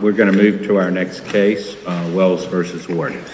We're going to move to our next case, Wells v. Warden.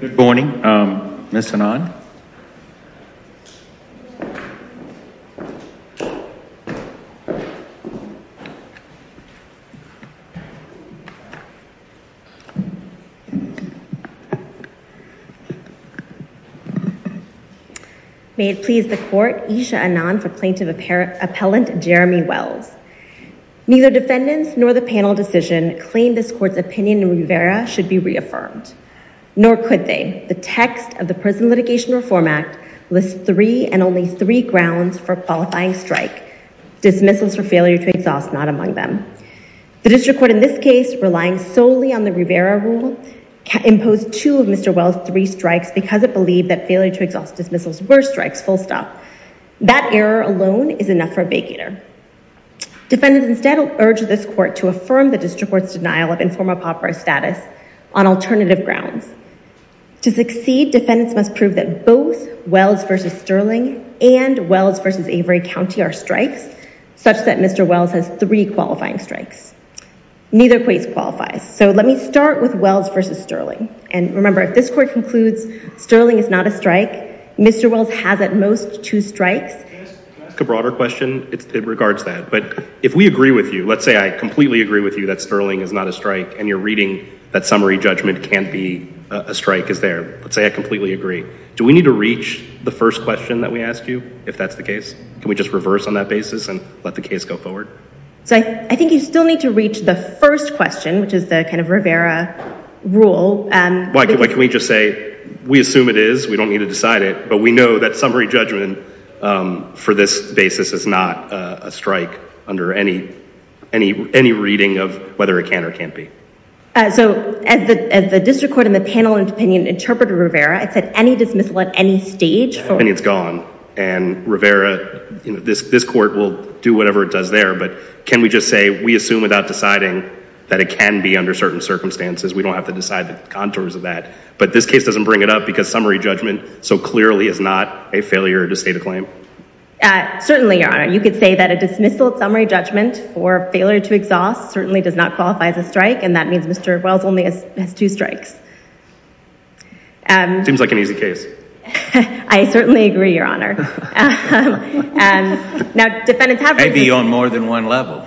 Good morning. Ms. Anand. May it please the court, Isha Anand for plaintiff appellant Jeremy Wells. Neither defendants nor the panel decision claim this court's opinion in Rivera should be reaffirmed. Nor could they. The text of the Prison Litigation Reform Act lists three and only three grounds for qualifying strike. Dismissals for failure to exhaust, not among them. The district court in this case, relying solely on the Rivera rule, imposed two of Mr. Wells' three strikes because it believed that failure to exhaust dismissals were strikes, full stop. That error alone is enough for a bake eater. Defendants instead urge this court to affirm the district court's denial of informal pauper status on alternative grounds. To succeed, defendants must prove that both Wells versus Sterling and Wells versus Avery County are strikes, such that Mr. Wells has three qualifying strikes. Neither case qualifies. So let me start with Wells versus Sterling. And remember, if this court concludes Sterling is not a strike, Mr. Wells has at most two strikes. To ask a broader question, it regards that. But if we agree with you, let's say I completely agree with you that Sterling is not a strike and you're reading that summary judgment can't be a strike is there. Let's say I completely agree. Do we need to reach the first question that we ask you if that's the case? Can we just reverse on that basis and let the case go forward? So I think you still need to reach the first question, which is the kind of Rivera rule. Why can't we just say, we assume it is, we don't need to decide it, but we know that summary judgment for this basis is not a strike under any reading of whether it can or can't be. So as the district court in the panel in opinion interpreted Rivera, it said any dismissal at any stage for- And it's gone. And Rivera, this court will do whatever it does there. But can we just say, we assume without deciding that it can be under certain circumstances, we don't have to decide the contours of that. because summary judgment so clearly is not a failure to state a claim. Certainly, your honor. You could say that a dismissal summary judgment for failure to exhaust certainly does not qualify as a strike. And that means Mr. Wells only has two strikes. Seems like an easy case. I certainly agree, your honor. Now defendants have- Maybe on more than one level.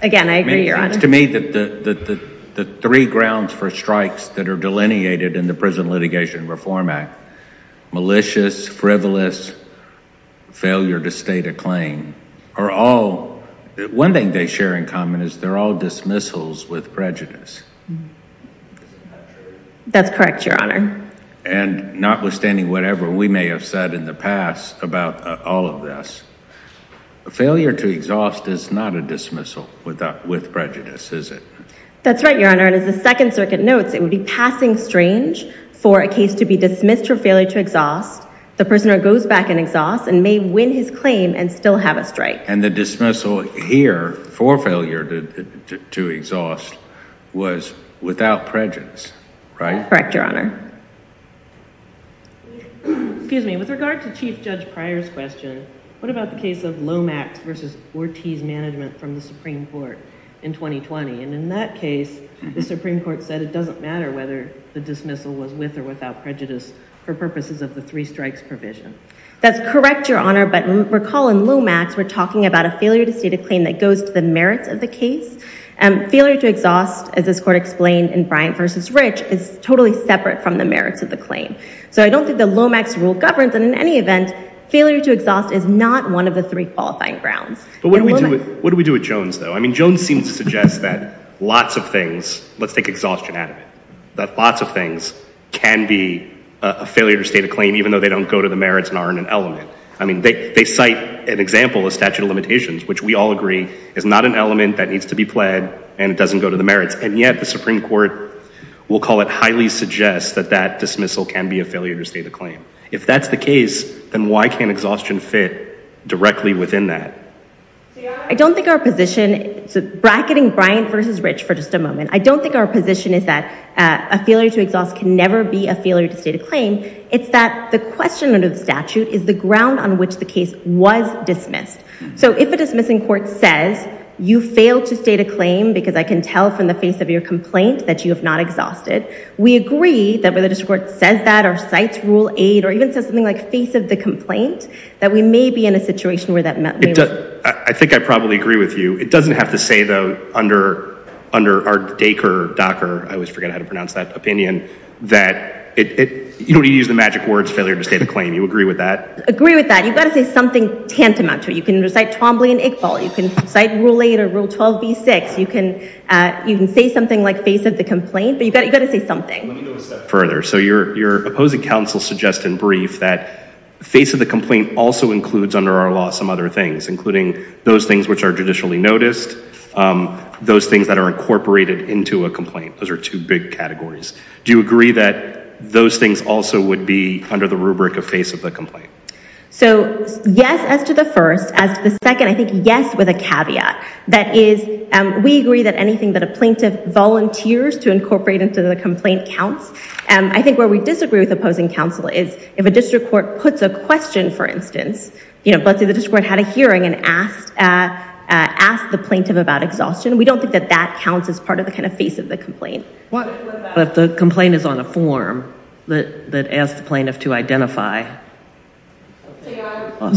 Again, I agree, your honor. It seems to me that the three grounds for strikes that are delineated in the Prison Litigation Reform Act, malicious, frivolous, failure to state a claim, are all, one thing they share in common is they're all dismissals with prejudice. That's correct, your honor. And notwithstanding whatever we may have said in the past about all of this, a failure to exhaust is not a dismissal with prejudice, is it? That's right, your honor. And as the Second Circuit notes, it would be passing strange for a case to be dismissed for failure to exhaust, the prisoner goes back and exhausts and may win his claim and still have a strike. And the dismissal here for failure to exhaust was without prejudice, right? Correct, your honor. Excuse me, with regard to Chief Judge Pryor's question, what about the case of Lomax versus Ortiz management from the Supreme Court in 2020? And in that case, the Supreme Court said it doesn't matter whether the dismissal was with or without prejudice for purposes of the three strikes provision. That's correct, your honor. But recall in Lomax, we're talking about a failure to state a claim that goes to the merits of the case. Failure to exhaust, as this court explained in Bryant versus Rich, is totally separate from the merits of the claim. So I don't think the Lomax rule governs, and in any event, failure to exhaust is not one of the three qualifying grounds. But what do we do with Jones, though? I mean, Jones seems to suggest that lots of things, let's take exhaustion out of it, that lots of things can be a failure to state a claim even though they don't go to the merits and aren't an element. I mean, they cite an example of statute of limitations, which we all agree is not an element that needs to be pled, and it doesn't go to the merits. And yet, the Supreme Court will call it highly suggests that that dismissal can be a failure to state a claim. If that's the case, then why can't exhaustion fit directly within that? See, I don't think our position, bracketing Bryant versus Rich for just a moment, I don't think our position is that a failure to exhaust can never be a failure to state a claim. It's that the question under the statute is the ground on which the case was dismissed. So if a dismissing court says you failed to state a claim because I can tell from the face of your complaint that you have not exhausted, we agree that when the district court says that, or cites rule eight, or even says something like face of the complaint, that we may be in a situation where that may work. I think I probably agree with you. It doesn't have to say, though, under our DACR, DACR, I always forget how to pronounce that opinion, that you don't need to use the magic words, failure to state a claim. You agree with that? Agree with that. You've got to say something tantamount to it. You can recite Twombly and Iqbal. You can cite rule eight or rule 12b-6. You can say something like face of the complaint, but you've got to say something. Let me go a step further. So your opposing counsel suggests in brief that face of the complaint also includes, under our law, some other things, including those things which are judicially noticed, those things that are incorporated into a complaint. Those are two big categories. Do you agree that those things also would be under the rubric of face of the complaint? So yes, as to the first. As to the second, I think yes, with a caveat. That is, we agree that anything that a plaintiff volunteers to incorporate into the complaint counts. I think where we disagree with opposing counsel is if a district court puts a question, for instance, let's say the district court had a hearing and asked the plaintiff about exhaustion. We don't think that that counts as part of the kind of face of the complaint. But if the complaint is on a form that asks the plaintiff to identify.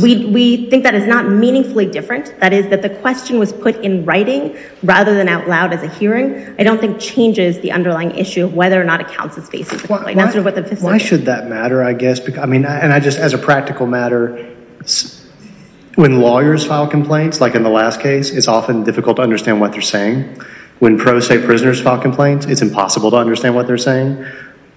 We think that is not meaningfully different. That is, that the question was put in writing rather than out loud as a hearing, I don't think changes the underlying issue of whether or not it counts as face of the complaint. Why should that matter, I guess? I mean, and I just, as a practical matter, when lawyers file complaints, like in the last case, it's often difficult to understand what they're saying. When pro se prisoners file complaints, it's impossible to understand what they're saying.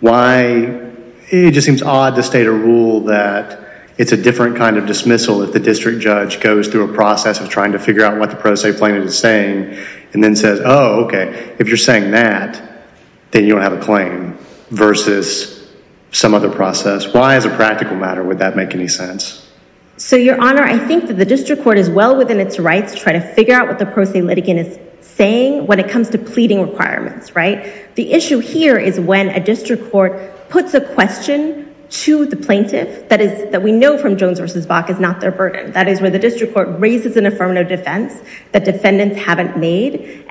Why, it just seems odd to state a rule that it's a different kind of dismissal if the district judge goes through a process of trying to figure out what the pro se plaintiff is saying and then says, oh, OK, if you're saying that, then you don't have a claim versus some other process. Why, as a practical matter, would that make any sense? So, Your Honor, I think that the district court is well within its rights to try to figure out what the pro se litigant is saying when it comes to pleading requirements, right? The issue here is when a district court puts a question to the plaintiff that we know from Jones versus Bach is not their burden. That is where the district court raises an affirmative defense that defendants haven't made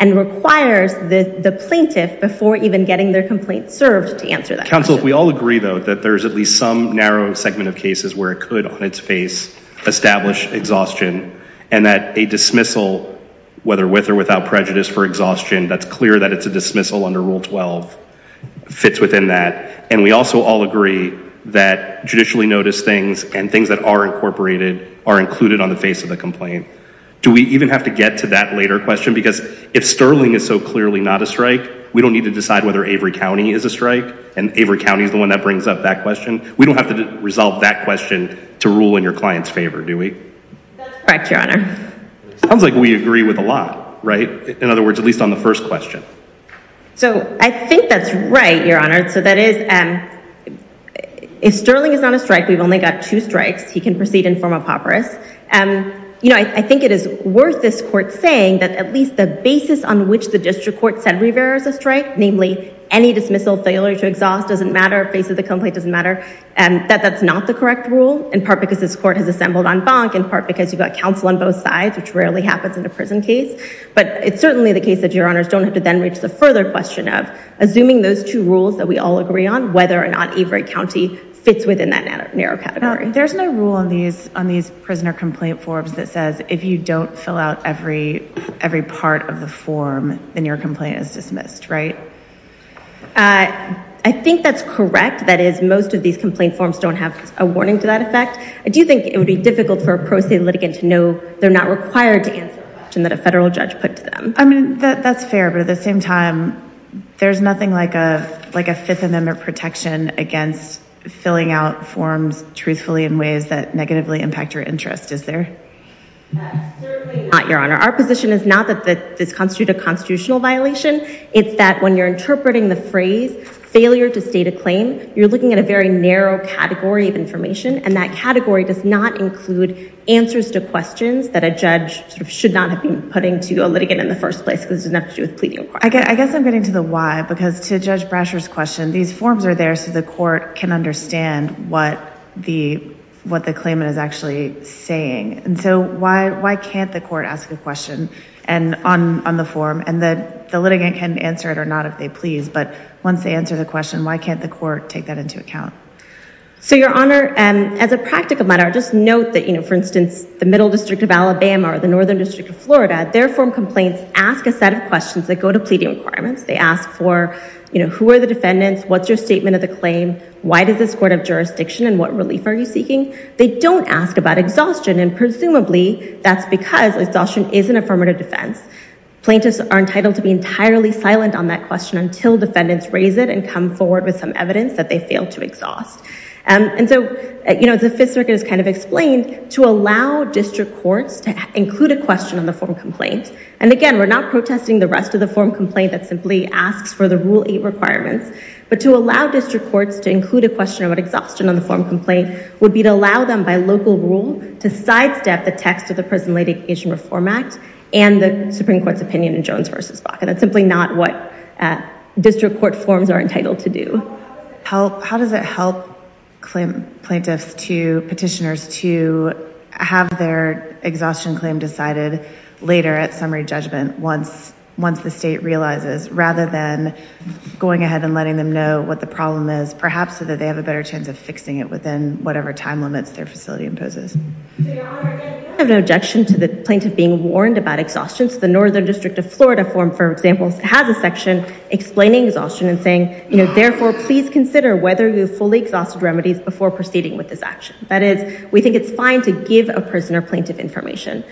before even getting their complaint served to answer that question. Counsel, if we all agree, though, that there's at least some narrow segment of cases where it could, on its face, establish exhaustion and that a dismissal, whether with or without prejudice for exhaustion, that's clear that it's a dismissal under Rule 12, fits within that. And we also all agree that judicially noticed things and things that are incorporated are included on the face of the complaint. Do we even have to get to that later question? Because if Sterling is so clearly not a strike, we don't need to decide whether Avery County is a strike and Avery County is the one that brings up that question. We don't have to resolve that question to rule in your client's favor, do we? That's correct, Your Honor. Sounds like we agree with a lot, right? In other words, at least on the first question. So I think that's right, Your Honor. So that is, if Sterling is not a strike, we've only got two strikes, he can proceed in form of hopperis. You know, I think it is worth this court saying that at least the basis on which the district court said Rivera is a strike, namely any dismissal failure to exhaust doesn't matter, face of the complaint doesn't matter, and that that's not the correct rule, in part because this court has assembled on bonk, in part because you've got counsel on both sides, which rarely happens in a prison case. But it's certainly the case that Your Honors don't have to then reach the further question of assuming those two rules that we all agree on, whether or not Avery County fits within that narrow category. There's no rule on these prisoner complaint forms that says if you don't fill out every part of the form, then your complaint is dismissed, right? I think that's correct. That is, most of these complaint forms don't have a warning to that effect. I do think it would be difficult for a pro se litigant to know they're not required to answer a question that a federal judge put to them. I mean, that's fair, but at the same time, there's nothing like a Fifth Amendment protection against filling out forms truthfully in ways that negatively impact your interest, is there? Not, Your Honor. Our position is not that this constitute a constitutional violation. It's that when you're interpreting the phrase failure to state a claim, you're looking at a very narrow category of information, and that category does not include answers to questions that a judge should not have been putting to a litigant in the first place, because it doesn't have to do with pleading a crime. I guess I'm getting to the why, because to Judge Brasher's question, these forms are there so the court can understand what the claimant is actually saying. And so why can't the court ask a question on the form, and the litigant can answer it or not if they please, but once they answer the question, why can't the court take that into account? So, Your Honor, as a practical matter, just note that, for instance, the Middle District of Alabama or the Northern District of Florida, their form complaints ask a set of questions that go to pleading requirements. They ask for who are the defendants, what's your statement of the claim, why does this court have jurisdiction, and what relief are you seeking? They don't ask about exhaustion, and presumably, that's because exhaustion is an affirmative defense. Plaintiffs are entitled to be entirely silent on that question until defendants raise it and come forward with some evidence that they failed to exhaust. And so, as the Fifth Circuit has kind of explained, to allow district courts to include a question on the form complaint, and again, we're not protesting the rest of the form complaint that simply asks for the Rule 8 requirements, but to allow district courts to include a question about exhaustion on the form complaint would be to allow them, by local rule, to sidestep the text of the Prison Latification Reform Act and the Supreme Court's opinion in Jones v. Baca. That's simply not what district court forms are entitled to do. How does it help plaintiffs to, petitioners, to have their exhaustion claim decided later at summary judgment once the state realizes, rather than going ahead and letting them know what the problem is, perhaps so that they have a better chance of fixing it within whatever time limits their facility imposes? Your Honor, I don't have an objection to the plaintiff being warned about exhaustion. So, the Northern District of Florida form, for example, has a section explaining exhaustion and saying, therefore, please consider whether you've fully exhausted remedies before proceeding with this action. That is, we think it's fine to give a prisoner plaintiff information.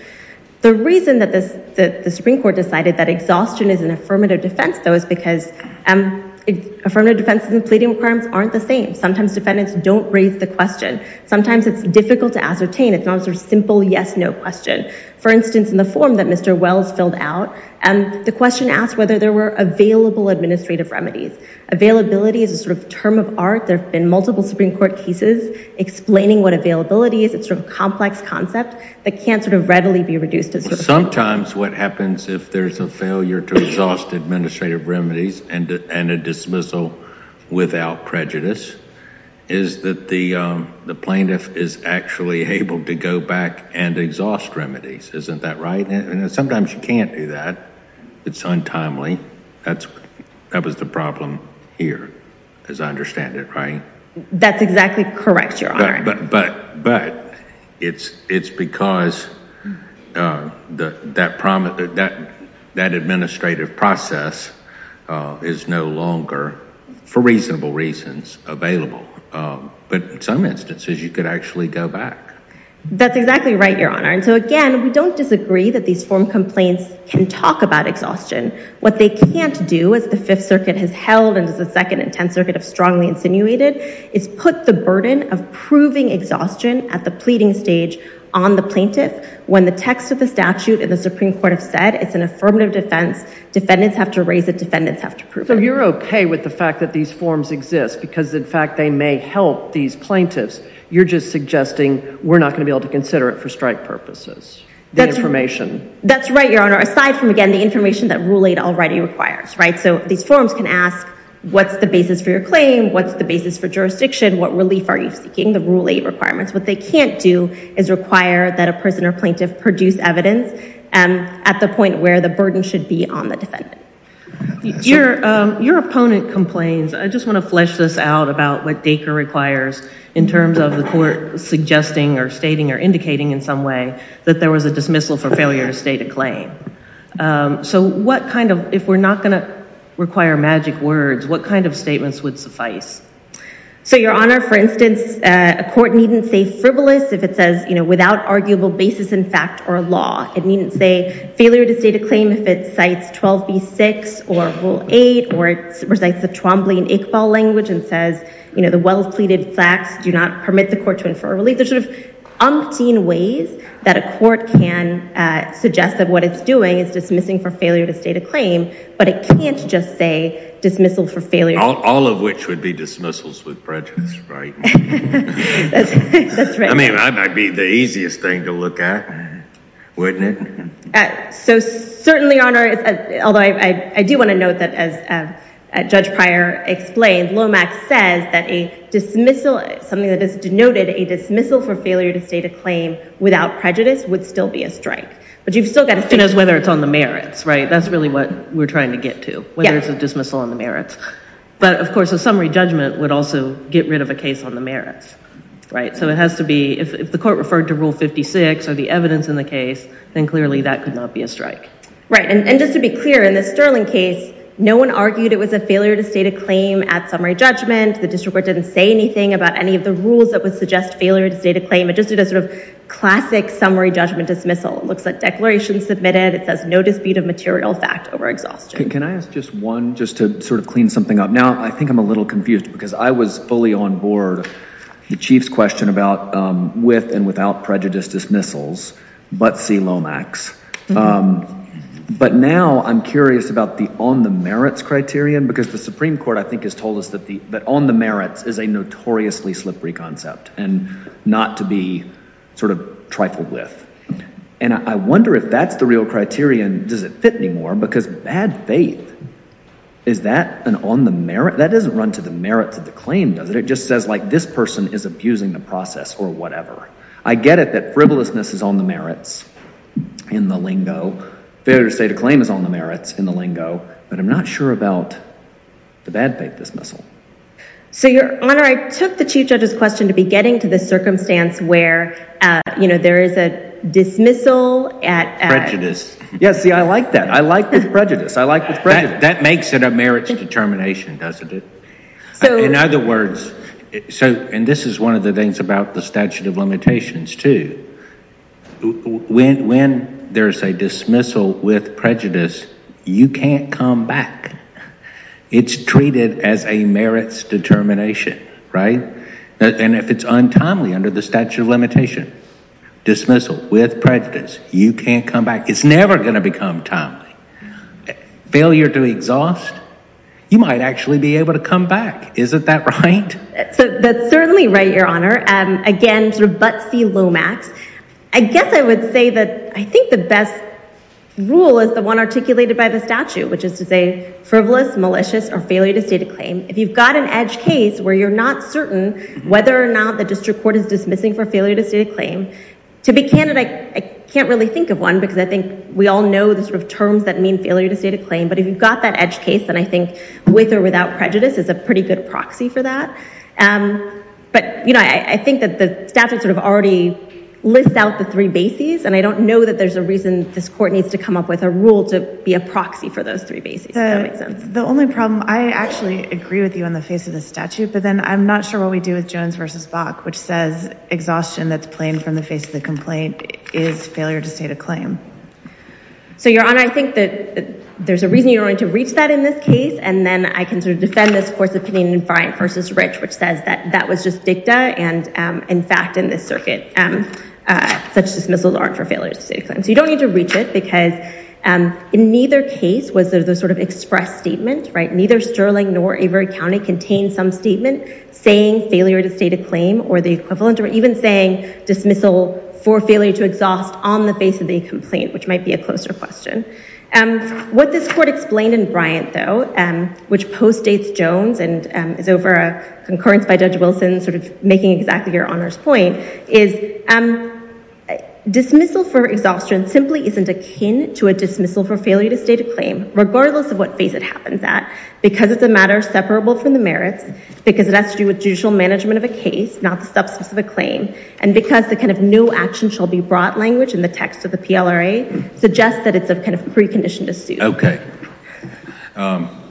The reason that the Supreme Court decided that exhaustion is an affirmative defense, though, is because affirmative defenses and pleading requirements aren't the same. Sometimes defendants don't raise the question. Sometimes it's difficult to ascertain. It's not a sort of simple yes, no question. For instance, in the form that Mr. Wells filled out, the question asked whether there were available administrative remedies. Availability is a sort of term of art. There have been multiple Supreme Court cases explaining what availability is. It's a sort of complex concept that can't sort of readily be reduced to- Sometimes what happens if there's a failure to exhaust administrative remedies and a dismissal without prejudice is that the plaintiff is actually able to go back and exhaust remedies. Isn't that right? Sometimes you can't do that. It's untimely. That was the problem here, as I understand it, right? That's exactly correct, Your Honor. But it's because that administrative process is no longer, for reasonable reasons, available. But in some instances, you could actually go back. That's exactly right, Your Honor. And so again, we don't disagree that these form complaints can talk about exhaustion. What they can't do, as the Fifth Circuit has held and as the Second and Tenth Circuit have strongly insinuated, is put the burden of proving exhaustion at the pleading stage on the plaintiff when the text of the statute and the Supreme Court have said it's an affirmative defense, defendants have to raise it, defendants have to prove it. So you're okay with the fact that these forms exist because, in fact, they may help these plaintiffs. You're just suggesting we're not gonna be able to consider it for strike purposes, the information? That's right, Your Honor. Aside from, again, the information that Rule 8 already requires, right? So these forms can ask, what's the basis for your claim? What's the basis for jurisdiction? What relief are you seeking? The Rule 8 requirements. What they can't do is require that a prisoner plaintiff produce evidence at the point where the burden should be on the defendant. Your opponent complains, I just wanna flesh this out about what Dacre requires in terms of the court suggesting or stating or indicating in some way that there was a dismissal for failure to state a claim. So what kind of, if we're not gonna require magic words, what kind of statements would suffice? So, Your Honor, for instance, a court needn't say frivolous if it says, without arguable basis in fact or law. It needn't say failure to state a claim if it cites 12B6 or Rule 8 or it recites the Twombly and Iqbal language and says the well-pleaded facts do not permit the court to infer relief. There's sort of umpteen ways that a court can suggest that what it's doing is dismissing for failure to state a claim, but it can't just say dismissal for failure. All of which would be dismissals with prejudice, right? That's right. I mean, that might be the easiest thing to look at, wouldn't it? So certainly, Your Honor, although I do want to note that as Judge Pryor explained, Lomax says that a dismissal, something that is denoted a dismissal for failure to state a claim without prejudice would still be a strike. But you've still got to think- As whether it's on the merits, right? That's really what we're trying to get to, whether it's a dismissal on the merits. But of course, a summary judgment would also get rid of a case on the merits, right? So it has to be, if the court referred to Rule 56 or the evidence in the case, then clearly that could not be a strike. Right, and just to be clear, in the Sterling case, no one argued it was a failure to state a claim at summary judgment. The district court didn't say anything about any of the rules that would suggest failure to state a claim. It just did a sort of classic summary judgment dismissal. It looks like declaration submitted. It says no dispute of material fact over exhaustion. Can I ask just one, just to sort of clean something up? Now, I think I'm a little confused because I was fully on board. The Chief's question about with and without prejudice dismissals, but see Lomax. But now I'm curious about the on the merits criterion because the Supreme Court, I think, has told us that on the merits is a notoriously slippery concept and not to be sort of trifled with. And I wonder if that's the real criterion. Does it fit anymore? Because bad faith, is that an on the merit? That doesn't run to the merits of the claim, does it? It just says like this person is abusing the process or whatever. I get it that frivolousness is on the merits in the lingo. Failure to state a claim is on the merits in the lingo, but I'm not sure about the bad faith dismissal. So Your Honor, I took the Chief Judge's question to be getting to the circumstance where, you know, there is a dismissal at- Prejudice. Yeah, see, I like that. I like the prejudice. I like the prejudice. That makes it a merits determination, doesn't it? In other words, so, and this is one of the things about the statute of limitations too. When there's a dismissal with prejudice, you can't come back. It's treated as a merits determination, right? And if it's untimely under the statute of limitation, dismissal with prejudice, you can't come back. It's never going to become timely. Failure to exhaust, you might actually be able to come back. Isn't that right? So that's certainly right, Your Honor. Again, sort of but see Lomax. I guess I would say that I think the best rule is the one articulated by the statute, which is to say frivolous, malicious, or failure to state a claim. If you've got an edge case where you're not certain whether or not the district court is dismissing for failure to state a claim, to be candid, I can't really think of one because I think we all know the sort of terms that mean failure to state a claim, but if you've got that edge case, then I think with or without prejudice is a pretty good proxy for that. But I think that the statute sort of already lists out the three bases, and I don't know that there's a reason this court needs to come up with a rule to be a proxy for those three bases, if that makes sense. The only problem, I actually agree with you on the face of the statute, but then I'm not sure what we do with Jones versus Bach, which says exhaustion that's plain from the face of the complaint is failure to state a claim. So Your Honor, I think that there's a reason you're willing to reach that in this case, and then I can sort of defend this court's opinion in Bryant versus Rich, which says that that was just dicta, and in fact, in this circuit, such dismissals aren't for failure to state a claim. So you don't need to reach it, because in neither case was there the sort of express statement, right? Neither Sterling nor Avery County contained some statement saying failure to state a claim or the equivalent, or even saying dismissal for failure to exhaust on the face of the complaint, which might be a closer question. What this court explained in Bryant, though, which postdates Jones and is over a concurrence by Judge Wilson sort of making exactly Your Honor's point is dismissal for exhaustion simply isn't akin to a dismissal for failure to state a claim, regardless of what face it happens at, because it's a matter separable from the merits, because it has to do with judicial management of a case, not the substance of a claim, and because the kind of new action shall be broad language in the text of the PLRA suggests that it's a kind of precondition to suit. Okay.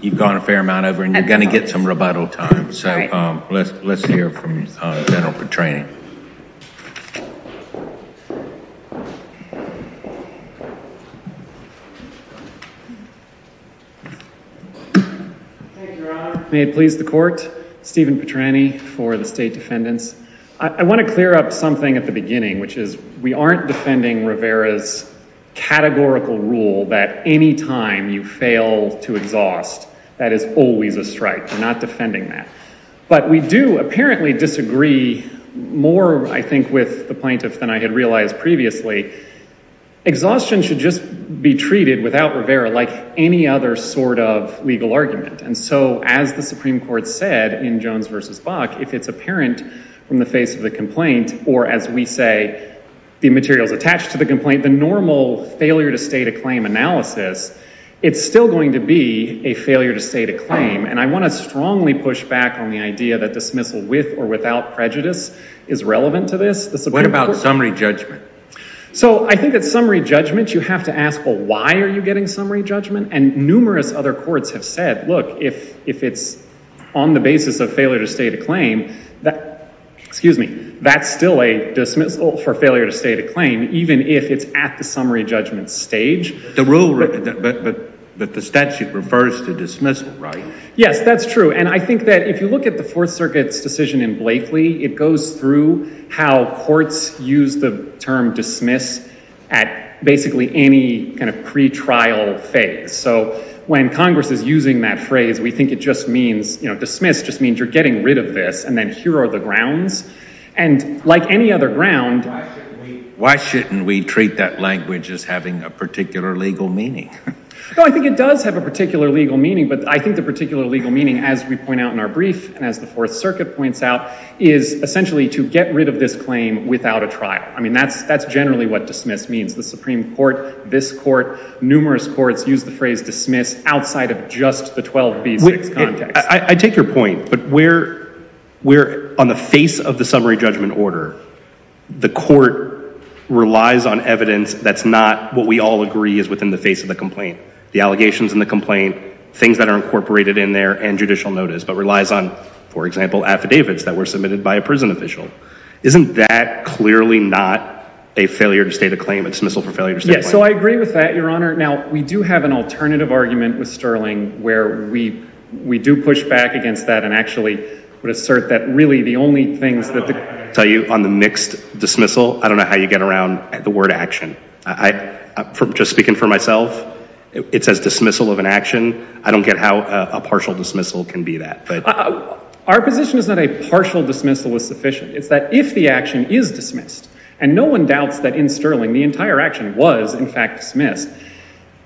You've gone a fair amount over and you're gonna get some rebuttal time. So let's hear from General Petrani. Thank you, Your Honor. May it please the court, Stephen Petrani for the state defendants. I wanna clear up something at the beginning, which is we aren't defending Rivera's categorical rule that any time you fail to exhaust, that is always a strike. We're not defending that. But we do apparently disagree more, I think, with the plaintiff than I had realized previously. Exhaustion should just be treated without Rivera like any other sort of legal argument. And so, as the Supreme Court said in Jones versus Buck, if it's apparent from the face of the complaint, or as we say, the materials attached to the complaint, the normal failure to state a claim analysis, it's still going to be a failure to state a claim. And I wanna strongly push back on the idea that dismissal with or without prejudice is relevant to this. What about summary judgment? So I think that summary judgment, you have to ask, well, why are you getting summary judgment? And numerous other courts have said, look, if it's on the basis of failure to state a claim, that, excuse me, that's still a dismissal for failure to state a claim, even if it's at the summary judgment stage. The rule, but the statute refers to dismissal, right? Yes, that's true. And I think that if you look at the Fourth Circuit's decision in Blakely, it goes through how courts use the term dismiss at basically any kind of pretrial phase. So when Congress is using that phrase, we think it just means, you know, dismiss just means you're getting rid of this, and then here are the grounds. And like any other ground- Why shouldn't we treat that language as having a particular legal meaning? No, I think it does have a particular legal meaning, but I think the particular legal meaning, as we point out in our brief, and as the Fourth Circuit points out, is essentially to get rid of this claim without a trial. I mean, that's generally what dismiss means. The Supreme Court, this court, numerous courts use the phrase dismiss outside of just the 12B6 context. I take your point, but where on the face of the summary judgment order, the court relies on evidence that's not what we all agree is within the face of the complaint, the allegations in the complaint, things that are incorporated in there and judicial notice, but relies on, for example, affidavits that were submitted by a prison official. Isn't that clearly not a failure to state a claim, a dismissal for failure to state a claim? Yes, so I agree with that, Your Honor. Now, we do have an alternative argument with Sterling where we do push back against that and actually would assert that, really, the only things that the- I'll tell you, on the mixed dismissal, I don't know how you get around the word action. Just speaking for myself, it says dismissal of an action. I don't get how a partial dismissal can be that. Our position is that a partial dismissal is sufficient. It's that if the action is dismissed, and no one doubts that in Sterling, the entire action was, in fact, dismissed,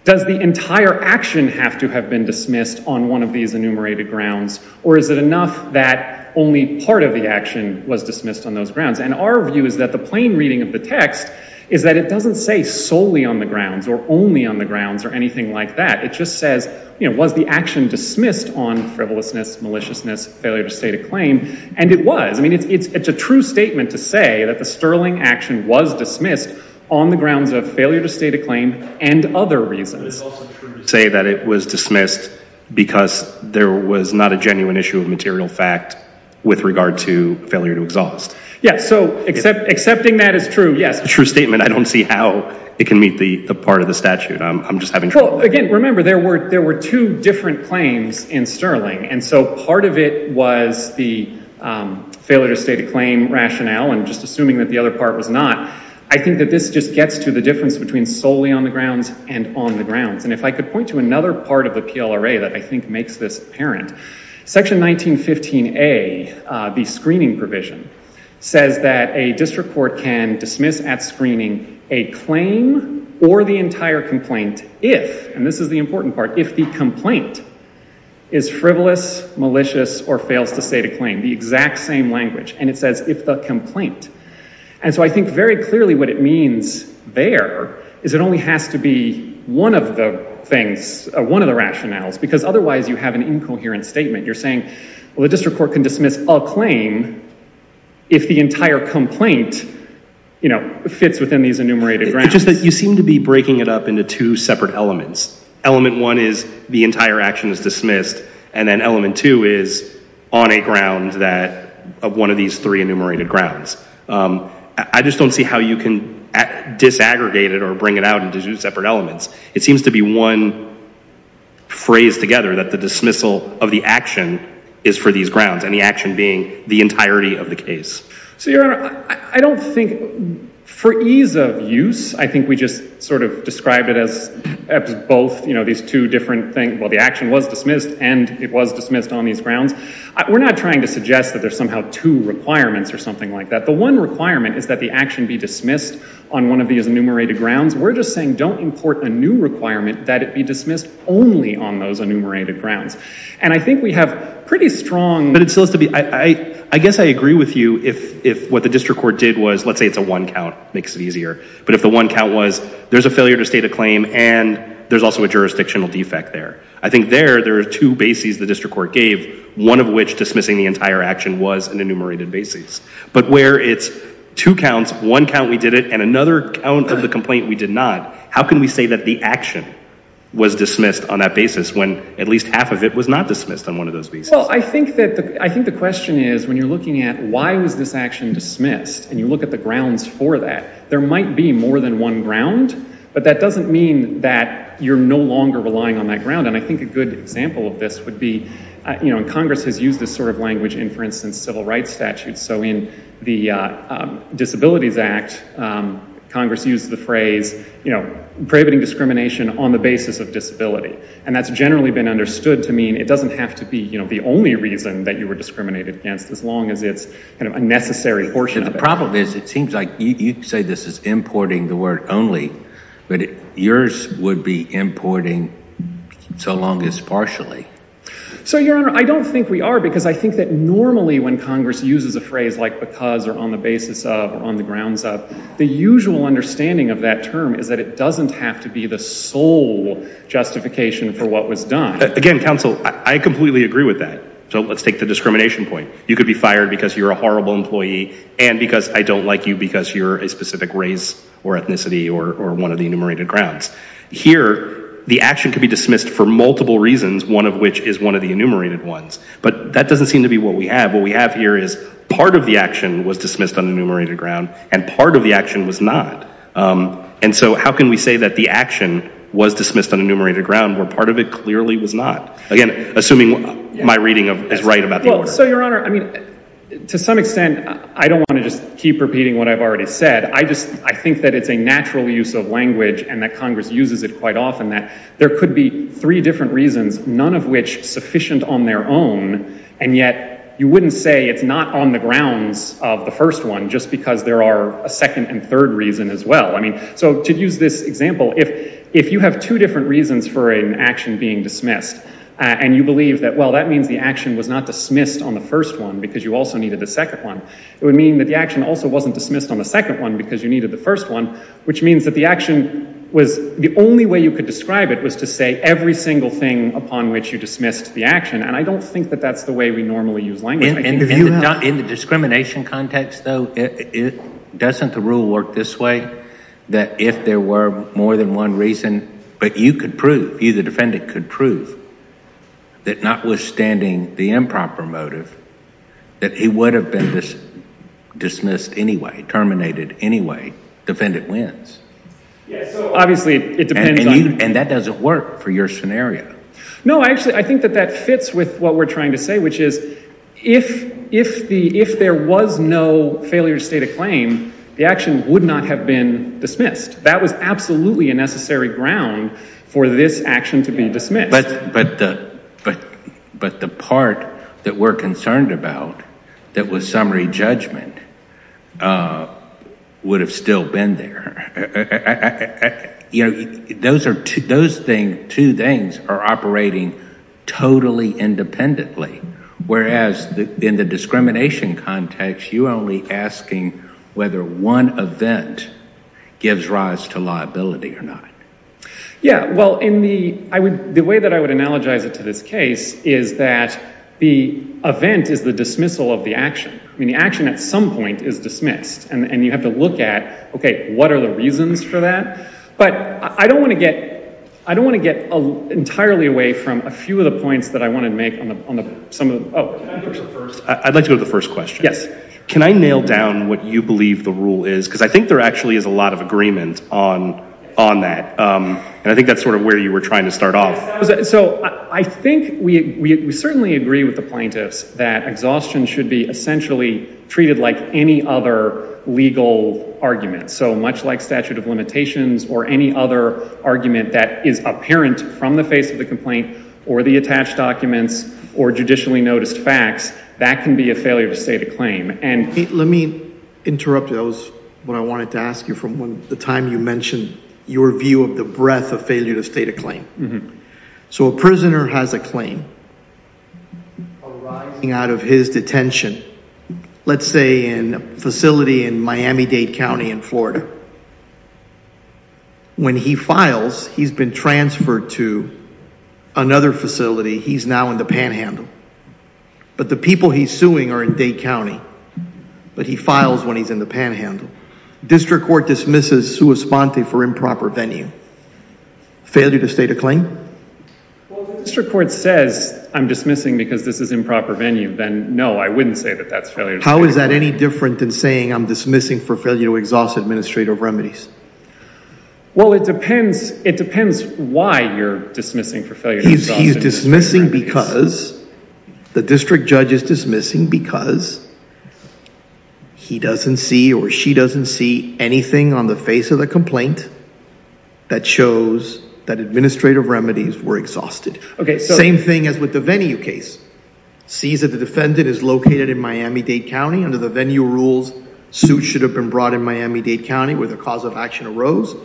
does the entire action have to have been dismissed on one of these enumerated grounds? Or is it enough that only part of the action was dismissed on those grounds? And our view is that the plain reading of the text is that it doesn't say solely on the grounds or only on the grounds or anything like that. It just says, was the action dismissed on frivolousness, maliciousness, failure to state a claim? And it was. I mean, it's a true statement to say that the Sterling action was dismissed on the grounds of failure to state a claim and other reasons. But it's also true to say that it was dismissed because there was not a genuine issue of material fact with regard to failure to exhaust. Yeah, so accepting that is true, yes. A true statement, I don't see how it can meet the part of the statute. I'm just having trouble. Again, remember, there were two different claims in Sterling. And so part of it was the failure to state a claim rationale and just assuming that the other part was not. I think that this just gets to the difference between solely on the grounds and on the grounds. And if I could point to another part of the PLRA that I think makes this apparent, section 1915A, the screening provision, says that a district court can dismiss at screening a claim or the entire complaint if, and this is the important part, if the complaint is frivolous, malicious, or fails to state a claim, the exact same language. And it says, if the complaint. And so I think very clearly what it means there is it only has to be one of the rationales, because otherwise you have an incoherent statement. You're saying, well, the district court can dismiss a claim if the entire complaint fits within these enumerated grounds. You seem to be breaking it up into two separate elements. Element one is the entire action is dismissed, and then element two is on a ground of one of these three enumerated grounds. I just don't see how you can disaggregate it or bring it out into two separate elements. It seems to be one phrase together that the dismissal of the action is for these grounds, and the action being the entirety of the case. So, Your Honor, I don't think for ease of use, I think we just sort of described it as both these two different things. Well, the action was dismissed, and it was dismissed on these grounds. We're not trying to suggest that there's somehow two requirements or something like that. The one requirement is that the action be dismissed on one of these enumerated grounds. We're just saying, don't import a new requirement that it be dismissed only on those enumerated grounds. And I think we have pretty strong, but it still has to be, I guess I agree with you if what the district court did was, let's say it's a one count, makes it easier. But if the one count was, there's a failure to state a claim, and there's also a jurisdictional defect there. I think there, there are two bases the district court gave, one of which dismissing the entire action was an enumerated basis. But where it's two counts, one count we did it, and another count of the complaint we did not, how can we say that the action was dismissed on that basis when at least half of it was not dismissed on one of those bases? Well, I think the question is, when you're looking at why was this action dismissed, and you look at the grounds for that, there might be more than one ground, but that doesn't mean that you're no longer relying on that ground. And I think a good example of this would be, and Congress has used this sort of language in, for instance, civil rights statutes. So in the Disabilities Act, Congress used the phrase, you know, prohibiting discrimination on the basis of disability. And that's generally been understood to mean it doesn't have to be the only reason that you were discriminated against, as long as it's a necessary portion of it. The problem is, it seems like you say this is importing the word only, but yours would be importing so long as partially. So Your Honor, I don't think we are, because I think that normally when Congress uses a phrase like because, or on the basis of, or on the grounds of, the usual understanding of that term is that it doesn't have to be the sole justification for what was done. Again, counsel, I completely agree with that. So let's take the discrimination point. You could be fired because you're a horrible employee, and because I don't like you because you're a specific race, or ethnicity, or one of the enumerated grounds. Here, the action could be dismissed for multiple reasons, one of which is one of the enumerated ones. But that doesn't seem to be what we have. What we have here is part of the action was dismissed on enumerated ground, and part of the action was not. And so how can we say that the action was dismissed on enumerated ground, where part of it clearly was not? Again, assuming my reading is right about the order. So Your Honor, to some extent, I don't want to just keep repeating what I've already said. I think that it's a natural use of language, and that Congress uses it quite often, that there could be three different reasons, none of which sufficient on their own. And yet, you wouldn't say it's not on the grounds of the first one, just because there are a second and third reason as well. I mean, so to use this example, if you have two different reasons for an action being dismissed, and you believe that, well, that means the action was not dismissed on the first one because you also needed the second one, it would mean that the action also wasn't dismissed on the second one because you needed the first one, which means that the action was, the only way you could describe it was to say every single thing upon which you dismissed the action. And I don't think that that's the way we normally use language. I think if you have. In the discrimination context, though, doesn't the rule work this way, that if there were more than one reason, but you could prove, you, the defendant, could prove that notwithstanding the improper motive, that it would have been dismissed anyway, terminated anyway, defendant wins? Yes, so obviously, it depends on. And that doesn't work for your scenario. No, actually, I think that that fits with what we're trying to say, which is, if there was no failure to state a claim, the action would not have been dismissed. That was absolutely a necessary ground for this action to be dismissed. But the part that we're concerned about that was summary judgment would have still been there. You know, those two things are operating totally independently, whereas in the discrimination context, you are only asking whether one event gives rise to liability or not. Yeah, well, the way that I would analogize it to this case is that the event is the dismissal of the action. I mean, the action, at some point, is dismissed. And you have to look at, OK, what are the reasons for that? But I don't want to get entirely away from a few of the points that I want to make on some of the, oh. Can I go first? I'd like to go to the first question. Yes. Can I nail down what you believe the rule is? Because I think there actually is a lot of agreement on that. And I think that's sort of where you were trying to start off. So I think we certainly agree with the plaintiffs that exhaustion should be essentially treated like any other legal argument. So much like statute of limitations or any other argument that is apparent from the face of the complaint or the attached documents or judicially noticed facts, that can be a failure to state a claim. And let me interrupt you. That was what I wanted to ask you from the time you mentioned your view of the breadth of failure to state a claim. So a prisoner has a claim arising out of his detention. Let's say in a facility in Miami-Dade County in Florida. When he files, he's been transferred to another facility. He's now in the panhandle. But the people he's suing are in Dade County. But he files when he's in the panhandle. District court dismisses sua sponte for improper venue. Failure to state a claim? Well, if the district court says, I'm dismissing because this is improper venue, then no. I wouldn't say that that's failure to state a claim. How is that any different than saying I'm dismissing for failure to exhaust administrative remedies? Well, it depends why you're dismissing for failure to exhaust administrative remedies. The district judge is dismissing because he doesn't see or she doesn't see anything on the face of the complaint that shows that administrative remedies were exhausted. Same thing as with the venue case. Sees that the defendant is located in Miami-Dade County. Under the venue rules, suit should have been brought in Miami-Dade County where the cause of action arose.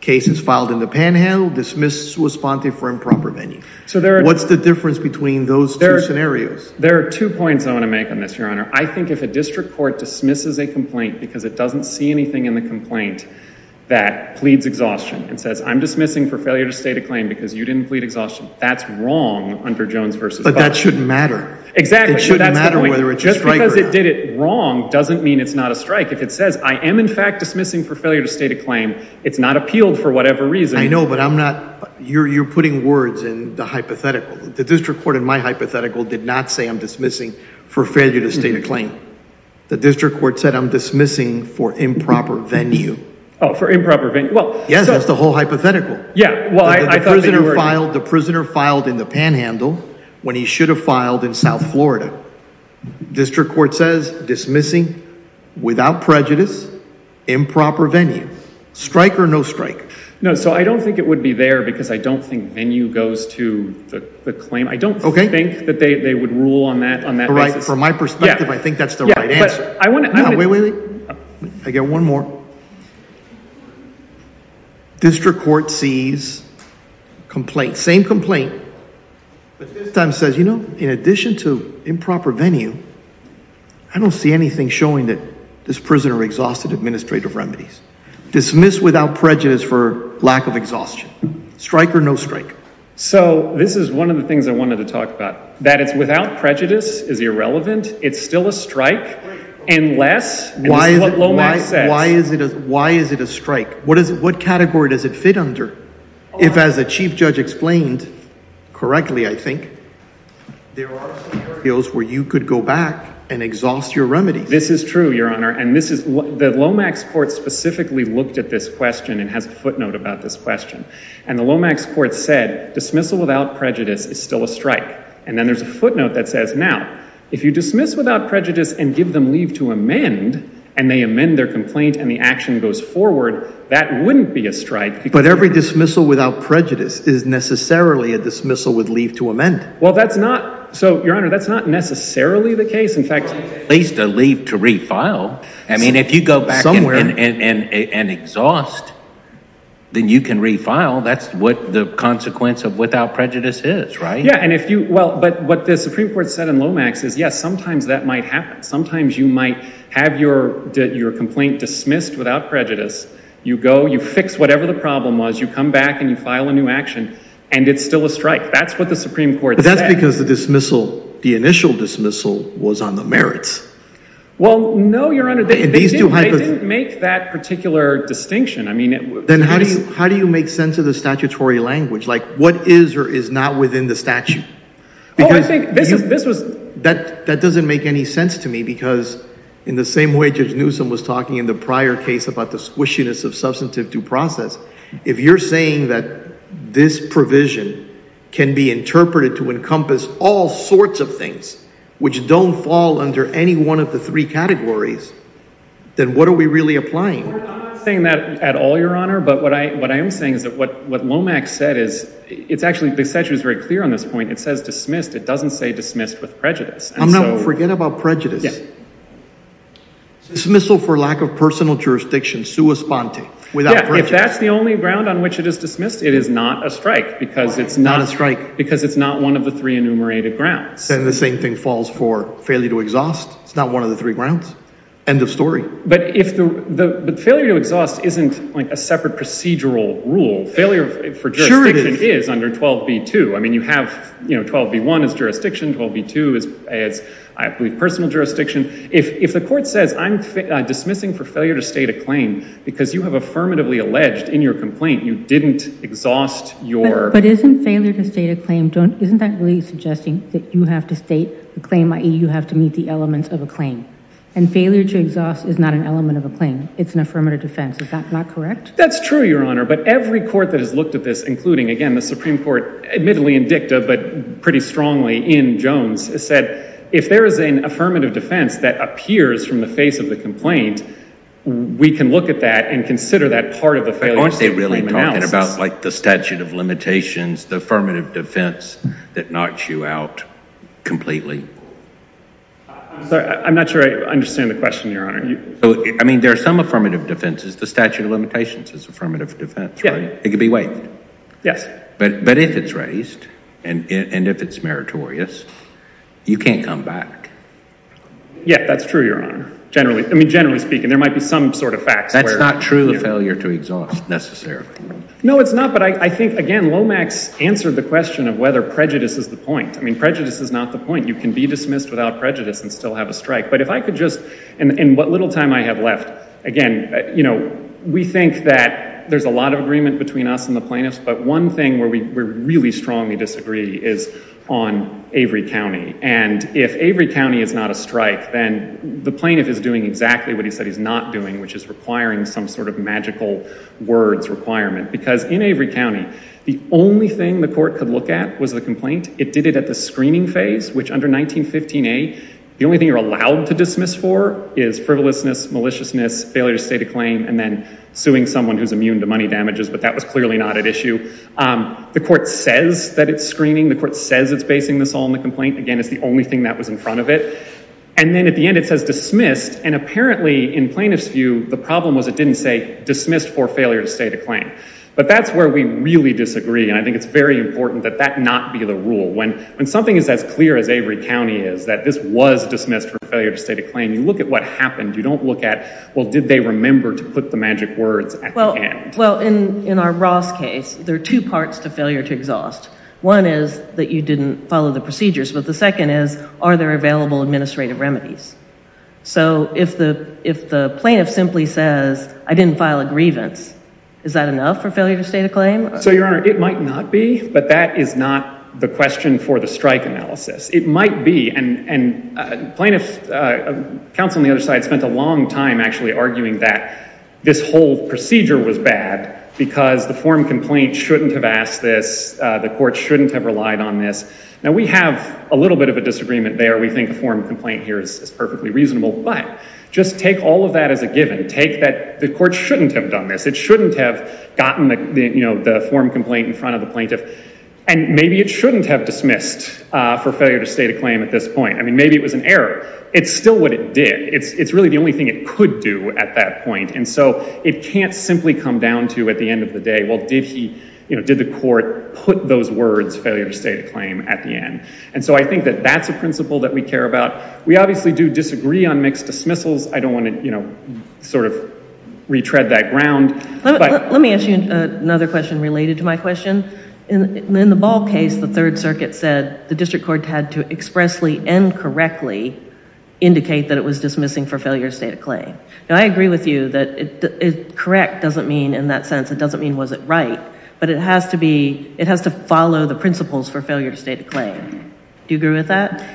Case is filed in the panhandle. Dismiss sua sponte for improper venue. What's the difference between those two scenarios? There are two points I want to make on this, Your Honor. I think if a district court dismisses a complaint because it doesn't see anything in the complaint that pleads exhaustion and says, I'm dismissing for failure to state a claim because you didn't plead exhaustion, that's wrong under Jones v. Goss. But that shouldn't matter. Exactly. It shouldn't matter whether it's a strike or not. Just because it did it wrong doesn't mean it's not a strike. If it says, I am in fact dismissing for failure to state a claim, it's not appealed for whatever reason. I know, but I'm not. You're putting words in the hypothetical. The district court in my hypothetical did not say I'm dismissing for failure to state a claim. The district court said I'm dismissing for improper venue. Oh, for improper venue. Yes, that's the whole hypothetical. Yeah, well, I thought that you were doing it. The prisoner filed in the panhandle when he should have filed in South Florida. District court says dismissing without prejudice, improper venue. Strike or no strike? No, so I don't think it would be there because I don't think venue goes to the claim. I don't think that they would rule on that basis. All right, from my perspective, I think that's the right answer. No, wait, wait, wait. I got one more. District court sees complaint, same complaint, but this time says, you know, in addition to improper venue, I don't see anything showing that this prisoner exhausted administrative remedies. Dismissed without prejudice for lack of exhaustion. Strike or no strike? So this is one of the things I wanted to talk about, that it's without prejudice is irrelevant. It's still a strike unless, and this is what Lomax says. Why is it a strike? What category does it fit under? If, as the chief judge explained correctly, I think there are fields where you could go back and exhaust your remedies. This is true, your honor, and this is what the Lomax court specifically looked at this question and has a footnote about this question. And the Lomax court said dismissal without prejudice is still a strike. And then there's a footnote that says, now, if you dismiss without prejudice and give them leave to amend, and they amend their complaint and the action goes forward, that wouldn't be a strike. But every dismissal without prejudice is necessarily a dismissal with leave to amend. Well, that's not, so your honor, that's not necessarily the case. In fact, at least a leave to refile. I mean, if you go back and exhaust, then you can refile. That's what the consequence of without prejudice is, right? Yeah, and if you, well, but what the Supreme Court said in Lomax is, yes, sometimes that might happen. Sometimes you might have your complaint dismissed without prejudice. You go, you fix whatever the problem was, you come back and you file a new action, and it's still a strike. That's what the Supreme Court said. But that's because the dismissal, the initial dismissal was on the merits. Well, no, your honor, they didn't make that particular distinction. I mean, it was- Then how do you make sense of the statutory language? Like what is or is not within the statute? Oh, I think this was- That doesn't make any sense to me because in the same way Judge Newsom was talking in the prior case about the squishiness of substantive due process, if you're saying that this provision can be interpreted to encompass all sorts of things which don't fall under any one of the three categories, then what are we really applying? We're not saying that at all, your honor. But what I am saying is that what Lomax said is, it's actually, the statute is very clear on this point. It says dismissed. It doesn't say dismissed with prejudice. I'm not- Forget about prejudice. Yeah. Dismissal for lack of personal jurisdiction, sua sponte, without prejudice. Yeah, if that's the only ground on which it is dismissed, it is not a strike because it's not- Not a strike. Because it's not one of the three enumerated grounds. Then the same thing falls for failure to exhaust. It's not one of the three grounds. End of story. But failure to exhaust isn't like a separate procedural rule. Failure for jurisdiction is under 12b-2. I mean, you have, you know, 12b-1 is jurisdiction, 12b-2 is, I believe, personal jurisdiction. If the court says I'm dismissing for failure to state a claim because you have affirmatively alleged in your complaint you didn't exhaust your- But isn't failure to state a claim, isn't that really suggesting that you have to state a claim, i.e. you have to meet the elements of a claim? And failure to exhaust is not an element of a claim. It's an affirmative defense. Is that not correct? That's true, your honor. But every court that has looked at this, including, again, the Supreme Court, admittedly in dicta, but pretty strongly in Jones, has said, if there is an affirmative defense that appears from the face of the complaint, we can look at that and consider that part of the failure- Aren't they really talking about like the statute of limitations, the affirmative defense that knocks you out completely? Sorry, I'm not sure I understand the question, your honor. I mean, there are some affirmative defenses. The statute of limitations is affirmative defense, right? It could be waived. Yes. But if it's raised, and if it's meritorious, you can't come back. Yeah, that's true, your honor. Generally, I mean, generally speaking, there might be some sort of facts where- That's not true of failure to exhaust, necessarily. No, it's not. But I think, again, Lomax answered the question of whether prejudice is the point. I mean, prejudice is not the point. You can be dismissed without prejudice and still have a strike. But if I could just, in what little time I have left, again, we think that there's a lot of agreement between us and the plaintiffs, but one thing where we really strongly disagree is on Avery County. And if Avery County is not a strike, then the plaintiff is doing exactly what he said he's not doing, which is requiring some sort of magical words requirement. Because in Avery County, the only thing the court could look at was the complaint. It did it at the screening phase, which under 1915a, the only thing you're allowed to dismiss for is frivolousness, maliciousness, failure to state a claim, and then suing someone who's immune to money damages, but that was clearly not at issue. The court says that it's screening. The court says it's basing this all on the complaint. Again, it's the only thing that was in front of it. And then at the end, it says dismissed. And apparently, in plaintiff's view, the problem was it didn't say dismissed for failure to state a claim. But that's where we really disagree. And I think it's very important that that not be the rule. When something is as clear as Avery County is, that this was dismissed for failure to state a claim, you look at what happened. You don't look at, well, did they remember to put the magic words at the end? Well, in our Ross case, there are two parts to failure to exhaust. One is that you didn't follow the procedures, but the second is, are there available administrative remedies? So if the plaintiff simply says, I didn't file a grievance, is that enough for failure to state a claim? So, Your Honor, it might not be, but that is not the question for the strike analysis. It might be, and plaintiff, counsel on the other side spent a long time actually arguing that this whole procedure was bad because the form complaint shouldn't have asked this. The court shouldn't have relied on this. Now we have a little bit of a disagreement there. We think a form complaint here is perfectly reasonable, but just take all of that as a given. Take that the court shouldn't have done this. It shouldn't have gotten the form complaint in front of the plaintiff. And maybe it shouldn't have dismissed for failure to state a claim at this point. I mean, maybe it was an error. It's still what it did. It's really the only thing it could do at that point. And so it can't simply come down to at the end of the day, well, did the court put those words, failure to state a claim at the end? And so I think that that's a principle that we care about. We obviously do disagree on mixed dismissals. I don't wanna sort of retread that ground. Let me ask you another question related to my question. In the Ball case, the third circuit said the district court had to expressly and correctly indicate that it was dismissing for failure to state a claim. Now, I agree with you that correct doesn't mean in that sense, it doesn't mean was it right, but it has to follow the principles for failure to state a claim. Do you agree with that?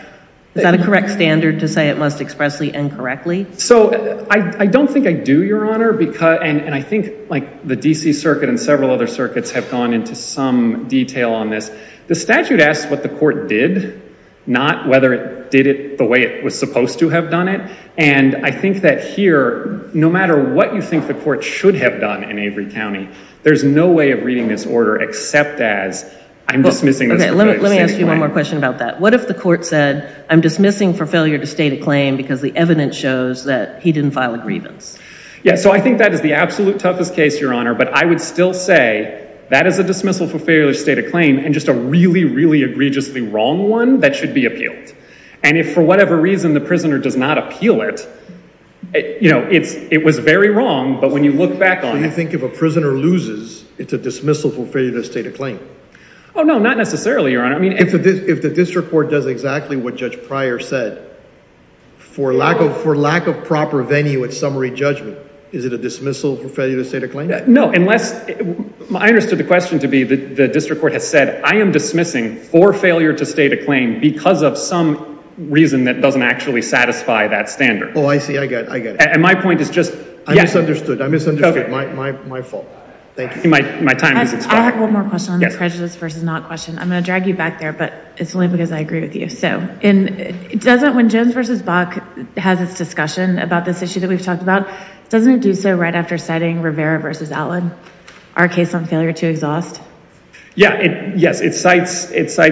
Is that a correct standard to say it must expressly and correctly? So I don't think I do, Your Honor, and I think like the DC circuit and several other circuits have gone into some detail on this. The statute asks what the court did, not whether it did it the way it was supposed to have done it, and I think that here, no matter what you think the court should have done in Avery County, there's no way of reading this order except as I'm dismissing this for failure to state a claim. Let me ask you one more question about that. What if the court said, I'm dismissing for failure to state a claim because the evidence shows that he didn't file a grievance? Yeah, so I think that is the absolute toughest case, Your Honor, but I would still say that is a dismissal for failure to state a claim and just a really, really egregiously wrong one that should be appealed, and if for whatever reason the prisoner does not appeal it, it was very wrong, but when you look back on it- So you think if a prisoner loses, it's a dismissal for failure to state a claim? Oh no, not necessarily, Your Honor. If the district court does exactly what Judge Pryor said for lack of proper venue at summary judgment, is it a dismissal for failure to state a claim? No, unless, I understood the question to be the district court has said, I am dismissing for failure to state a claim because of some reason that doesn't actually satisfy that standard. Oh, I see, I get it, I get it. And my point is just- I misunderstood, I misunderstood, my fault. Thank you. My time has expired. I have one more question on the prejudice versus not question. I'm gonna drag you back there, but it's only because I agree with you. So, when Jones v. Bach has this discussion about this issue that we've talked about, doesn't it do so right after citing Rivera v. Allen, our case on failure to exhaust? Yeah, yes, it cites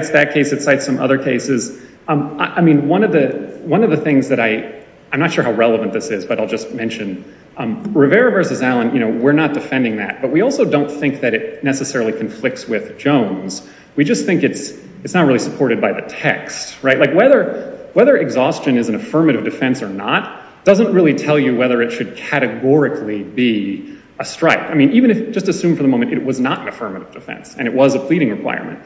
that case, it cites some other cases. I mean, one of the things that I, I'm not sure how relevant this is, but I'll just mention Rivera v. Allen, we're not defending that, but we also don't think that it necessarily conflicts with Jones. We just think it's not really supported by the text, right? Like whether exhaustion is an affirmative defense or not, doesn't really tell you whether it should categorically be a strike. I mean, even if, just assume for the moment, it was not an affirmative defense and it was a pleading requirement.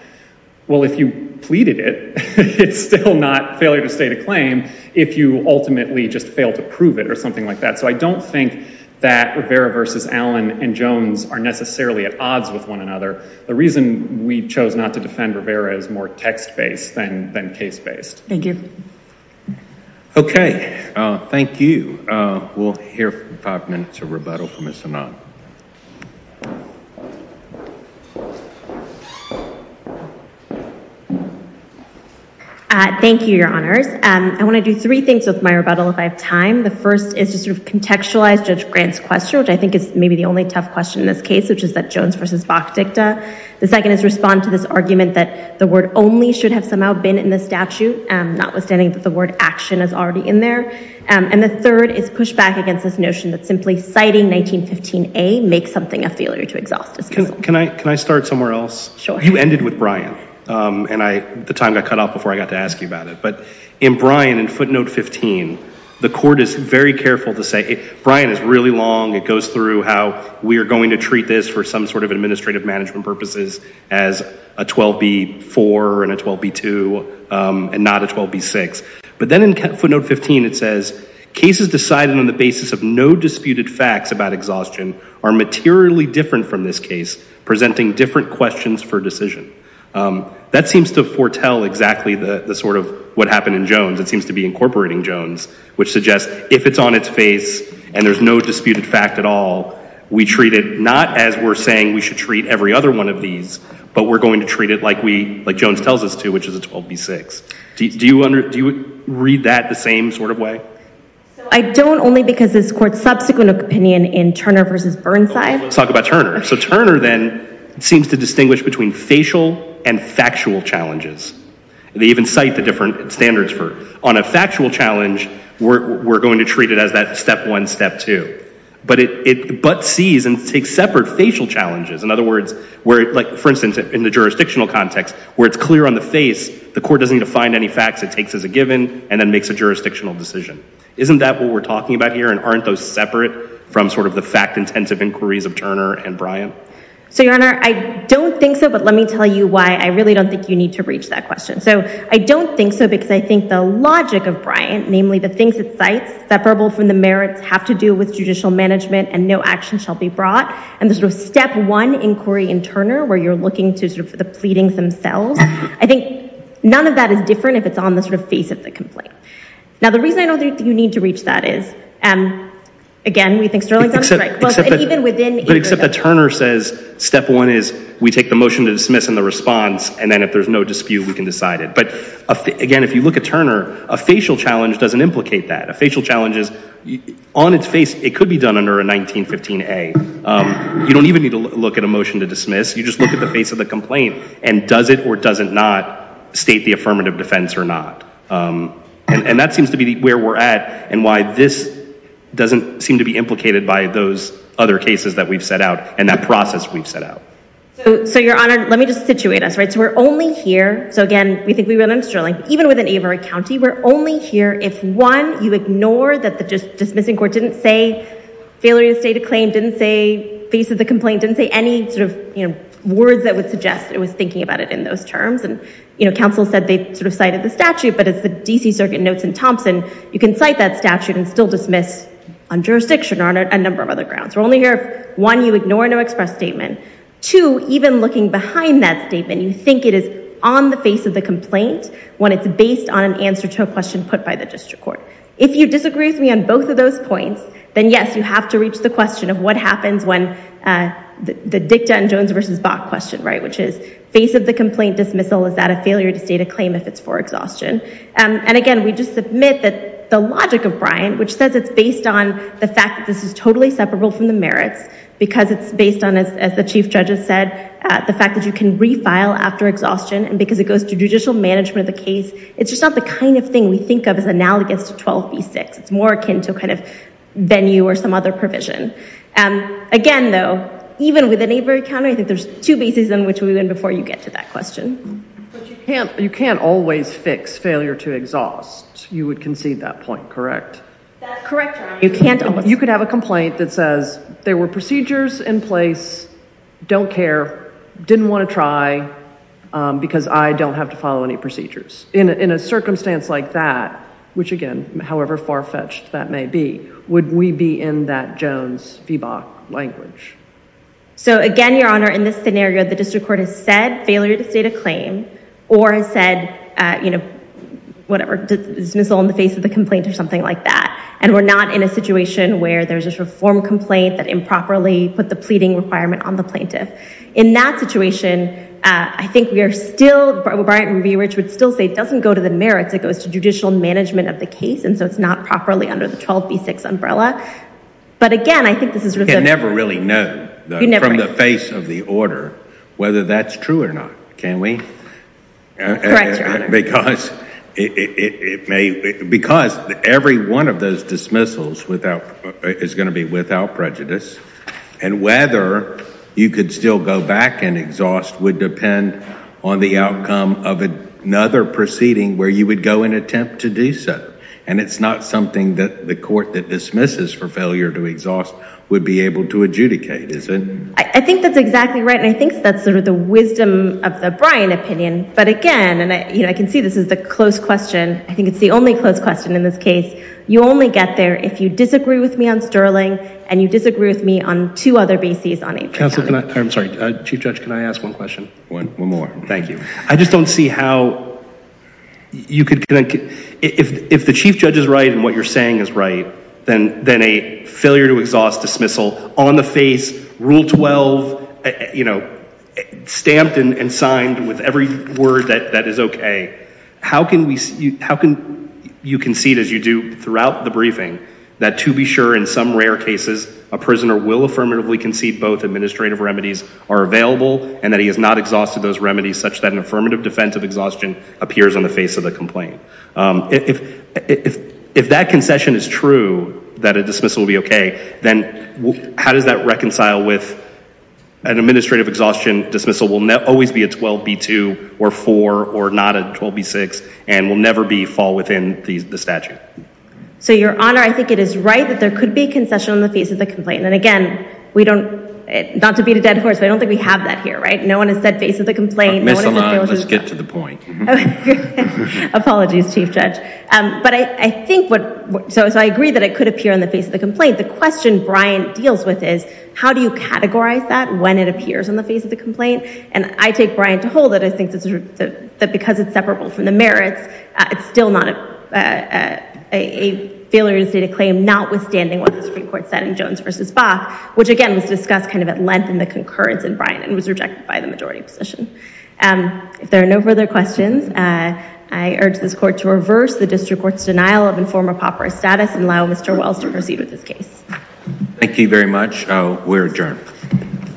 Well, if you pleaded it, it's still not failure to state a claim if you ultimately just fail to prove it or something like that. So I don't think that Rivera v. Allen and Jones are necessarily at odds with one another. The reason we chose not to defend Rivera is more text-based than case-based. Thank you. Okay, thank you. We'll hear from five minutes of rebuttal from Ms. Hanna. Thank you. Thank you, Your Honors. I want to do three things with my rebuttal if I have time. The first is to sort of contextualize Judge Grant's question, which I think is maybe the only tough question in this case, which is that Jones v. Bach dicta. The second is respond to this argument that the word only should have somehow been in the statute, notwithstanding that the word action is already in there. And the third is push back against this notion that simply citing 1915A makes something a failure to exhaust. Can I start somewhere else? Sure. You ended with Bryan, and the time got cut off before I got to ask you about it. But in Bryan, in footnote 15, the court is very careful to say, Bryan is really long. It goes through how we are going to treat this for some sort of administrative management purposes as a 12B4 and a 12B2 and not a 12B6. But then in footnote 15, it says, cases decided on the basis of no disputed facts about exhaustion are materially different from this case, presenting different questions for decision. That seems to foretell exactly the sort of what happened in Jones. It seems to be incorporating Jones, which suggests if it's on its face and there's no disputed fact at all, we treat it not as we're saying we should treat every other one of these, but we're going to treat it like we, like Jones tells us to, which is a 12B6. Do you read that the same sort of way? I don't only because this court's subsequent opinion in Turner versus Burnside. Let's talk about Turner. So Turner then seems to distinguish between facial and factual challenges. They even cite the different standards for, on a factual challenge, we're going to treat it as that step one, step two. But it but sees and takes separate facial challenges. In other words, where like for instance, in the jurisdictional context, where it's clear on the face, the court doesn't need to find any facts, it takes as a given and then makes a jurisdictional decision. Isn't that what we're talking about here? And aren't those separate from sort of the fact-intensive inquiries of Turner and Bryant? So your Honor, I don't think so, but let me tell you why I really don't think you need to reach that question. So I don't think so because I think the logic of Bryant, namely the things it cites, separable from the merits, have to do with judicial management and no action shall be brought. And the sort of step one inquiry in Turner, where you're looking to sort of the pleadings themselves, I think none of that is different if it's on the sort of face of the complaint. Now, the reason I don't think you need to reach that is, again, we think Sterling's on strike. Well, and even within- But except that Turner says, step one is we take the motion to dismiss and the response, and then if there's no dispute, we can decide it. But again, if you look at Turner, a facial challenge doesn't implicate that. A facial challenge is on its face, it could be done under a 1915A. You don't even need to look at a motion to dismiss, you just look at the face of the complaint and does it or does it not state the affirmative defense or not. And that seems to be where we're at and why this doesn't seem to be implicated by those other cases that we've set out and that process we've set out. So, Your Honor, let me just situate us, right? So we're only here, so again, we think we run on Sterling, even within Avery County, we're only here if one, you ignore that the dismissing court didn't say failure to state a claim, didn't say face of the complaint, didn't say any sort of words that would suggest it was thinking about it in those terms. And counsel said they sort of cited the statute, but it's the DC Circuit notes in Thompson, you can cite that statute and still dismiss on jurisdiction or on a number of other grounds. We're only here if one, you ignore no express statement, two, even looking behind that statement, you think it is on the face of the complaint when it's based on an answer to a question put by the district court. If you disagree with me on both of those points, then yes, you have to reach the question of what happens when the dicta and Jones versus Bach question, right? Which is face of the complaint dismissal, is that a failure to state a claim if it's for exhaustion? And again, we just submit that the logic of Bryant, which says it's based on the fact that this is totally separable from the merits because it's based on, as the chief judge has said, the fact that you can refile after exhaustion and because it goes to judicial management of the case, it's just not the kind of thing we think of as analogous to 12B6. It's more akin to kind of venue or some other provision. Again, though, even with a neighbor encounter, I think there's two bases in which we went before you get to that question. You can't always fix failure to exhaust. You would concede that point, correct? That's correct, Your Honor. You could have a complaint that says there were procedures in place, don't care, didn't want to try because I don't have to follow any procedures. In a circumstance like that, which again, however far-fetched that may be, would we be in that Jones-Feebach language? So again, Your Honor, in this scenario, the district court has said failure to state a claim or has said, you know, whatever, dismissal on the face of the complaint or something like that. And we're not in a situation where there's this reform complaint that improperly put the pleading requirement on the plaintiff. In that situation, I think we are still, Bryant and Beerich would still say it doesn't go to the merits, it goes to judicial management of the case. And so it's not properly under the 12B6 umbrella. But again, I think this is sort of- You can never really know from the face of the order whether that's true or not, can we? Correct, Your Honor. Because it may, because every one of those dismissals without, is going to be without prejudice and whether you could still go back and exhaust would depend on the outcome of another proceeding where you would go and attempt to do so. And it's not something that the court that dismisses for failure to exhaust would be able to adjudicate, is it? I think that's exactly right. And I think that's sort of the wisdom of the Bryant opinion. But again, and I can see this is the close question. I think it's the only close question in this case. You only get there if you disagree with me on Sterling and you disagree with me on two other BCs on- Counselor, can I, I'm sorry, Chief Judge, can I ask one question? One more, thank you. I just don't see how you could, if the Chief Judge is right and what you're saying is right, then a failure to exhaust dismissal on the face, rule 12, stamped and signed with every word that is okay, how can you concede as you do throughout the briefing that to be sure in some rare cases, a prisoner will affirmatively concede both administrative remedies are available and that he has not exhausted those remedies such that an affirmative defense of exhaustion appears on the face of the complaint? If that concession is true, that a dismissal will be okay, then how does that reconcile with an administrative exhaustion dismissal will always be a 12B2 or four or not a 12B6 and will never be fall within the statute? So Your Honor, I think it is right that there could be concession on the face of the complaint. And again, we don't, not to beat a dead horse, but I don't think we have that here, right? No one has said face of the complaint. Miss Alana, let's get to the point. Apologies, Chief Judge. But I think what, so I agree that it could appear on the face of the complaint. The question Brian deals with is, how do you categorize that when it appears on the face of the complaint? And I take Brian to hold it. I think that because it's separable from the merits, it's still not a failure to state a claim notwithstanding what the Supreme Court said in Jones versus Bach, which again was discussed kind of at length in the concurrence in Brian and was rejected by the majority position. If there are no further questions, I urge this court to reverse the district court's denial of informer pauperous status and allow Mr. Wells to proceed with his case. Thank you very much. We're adjourned.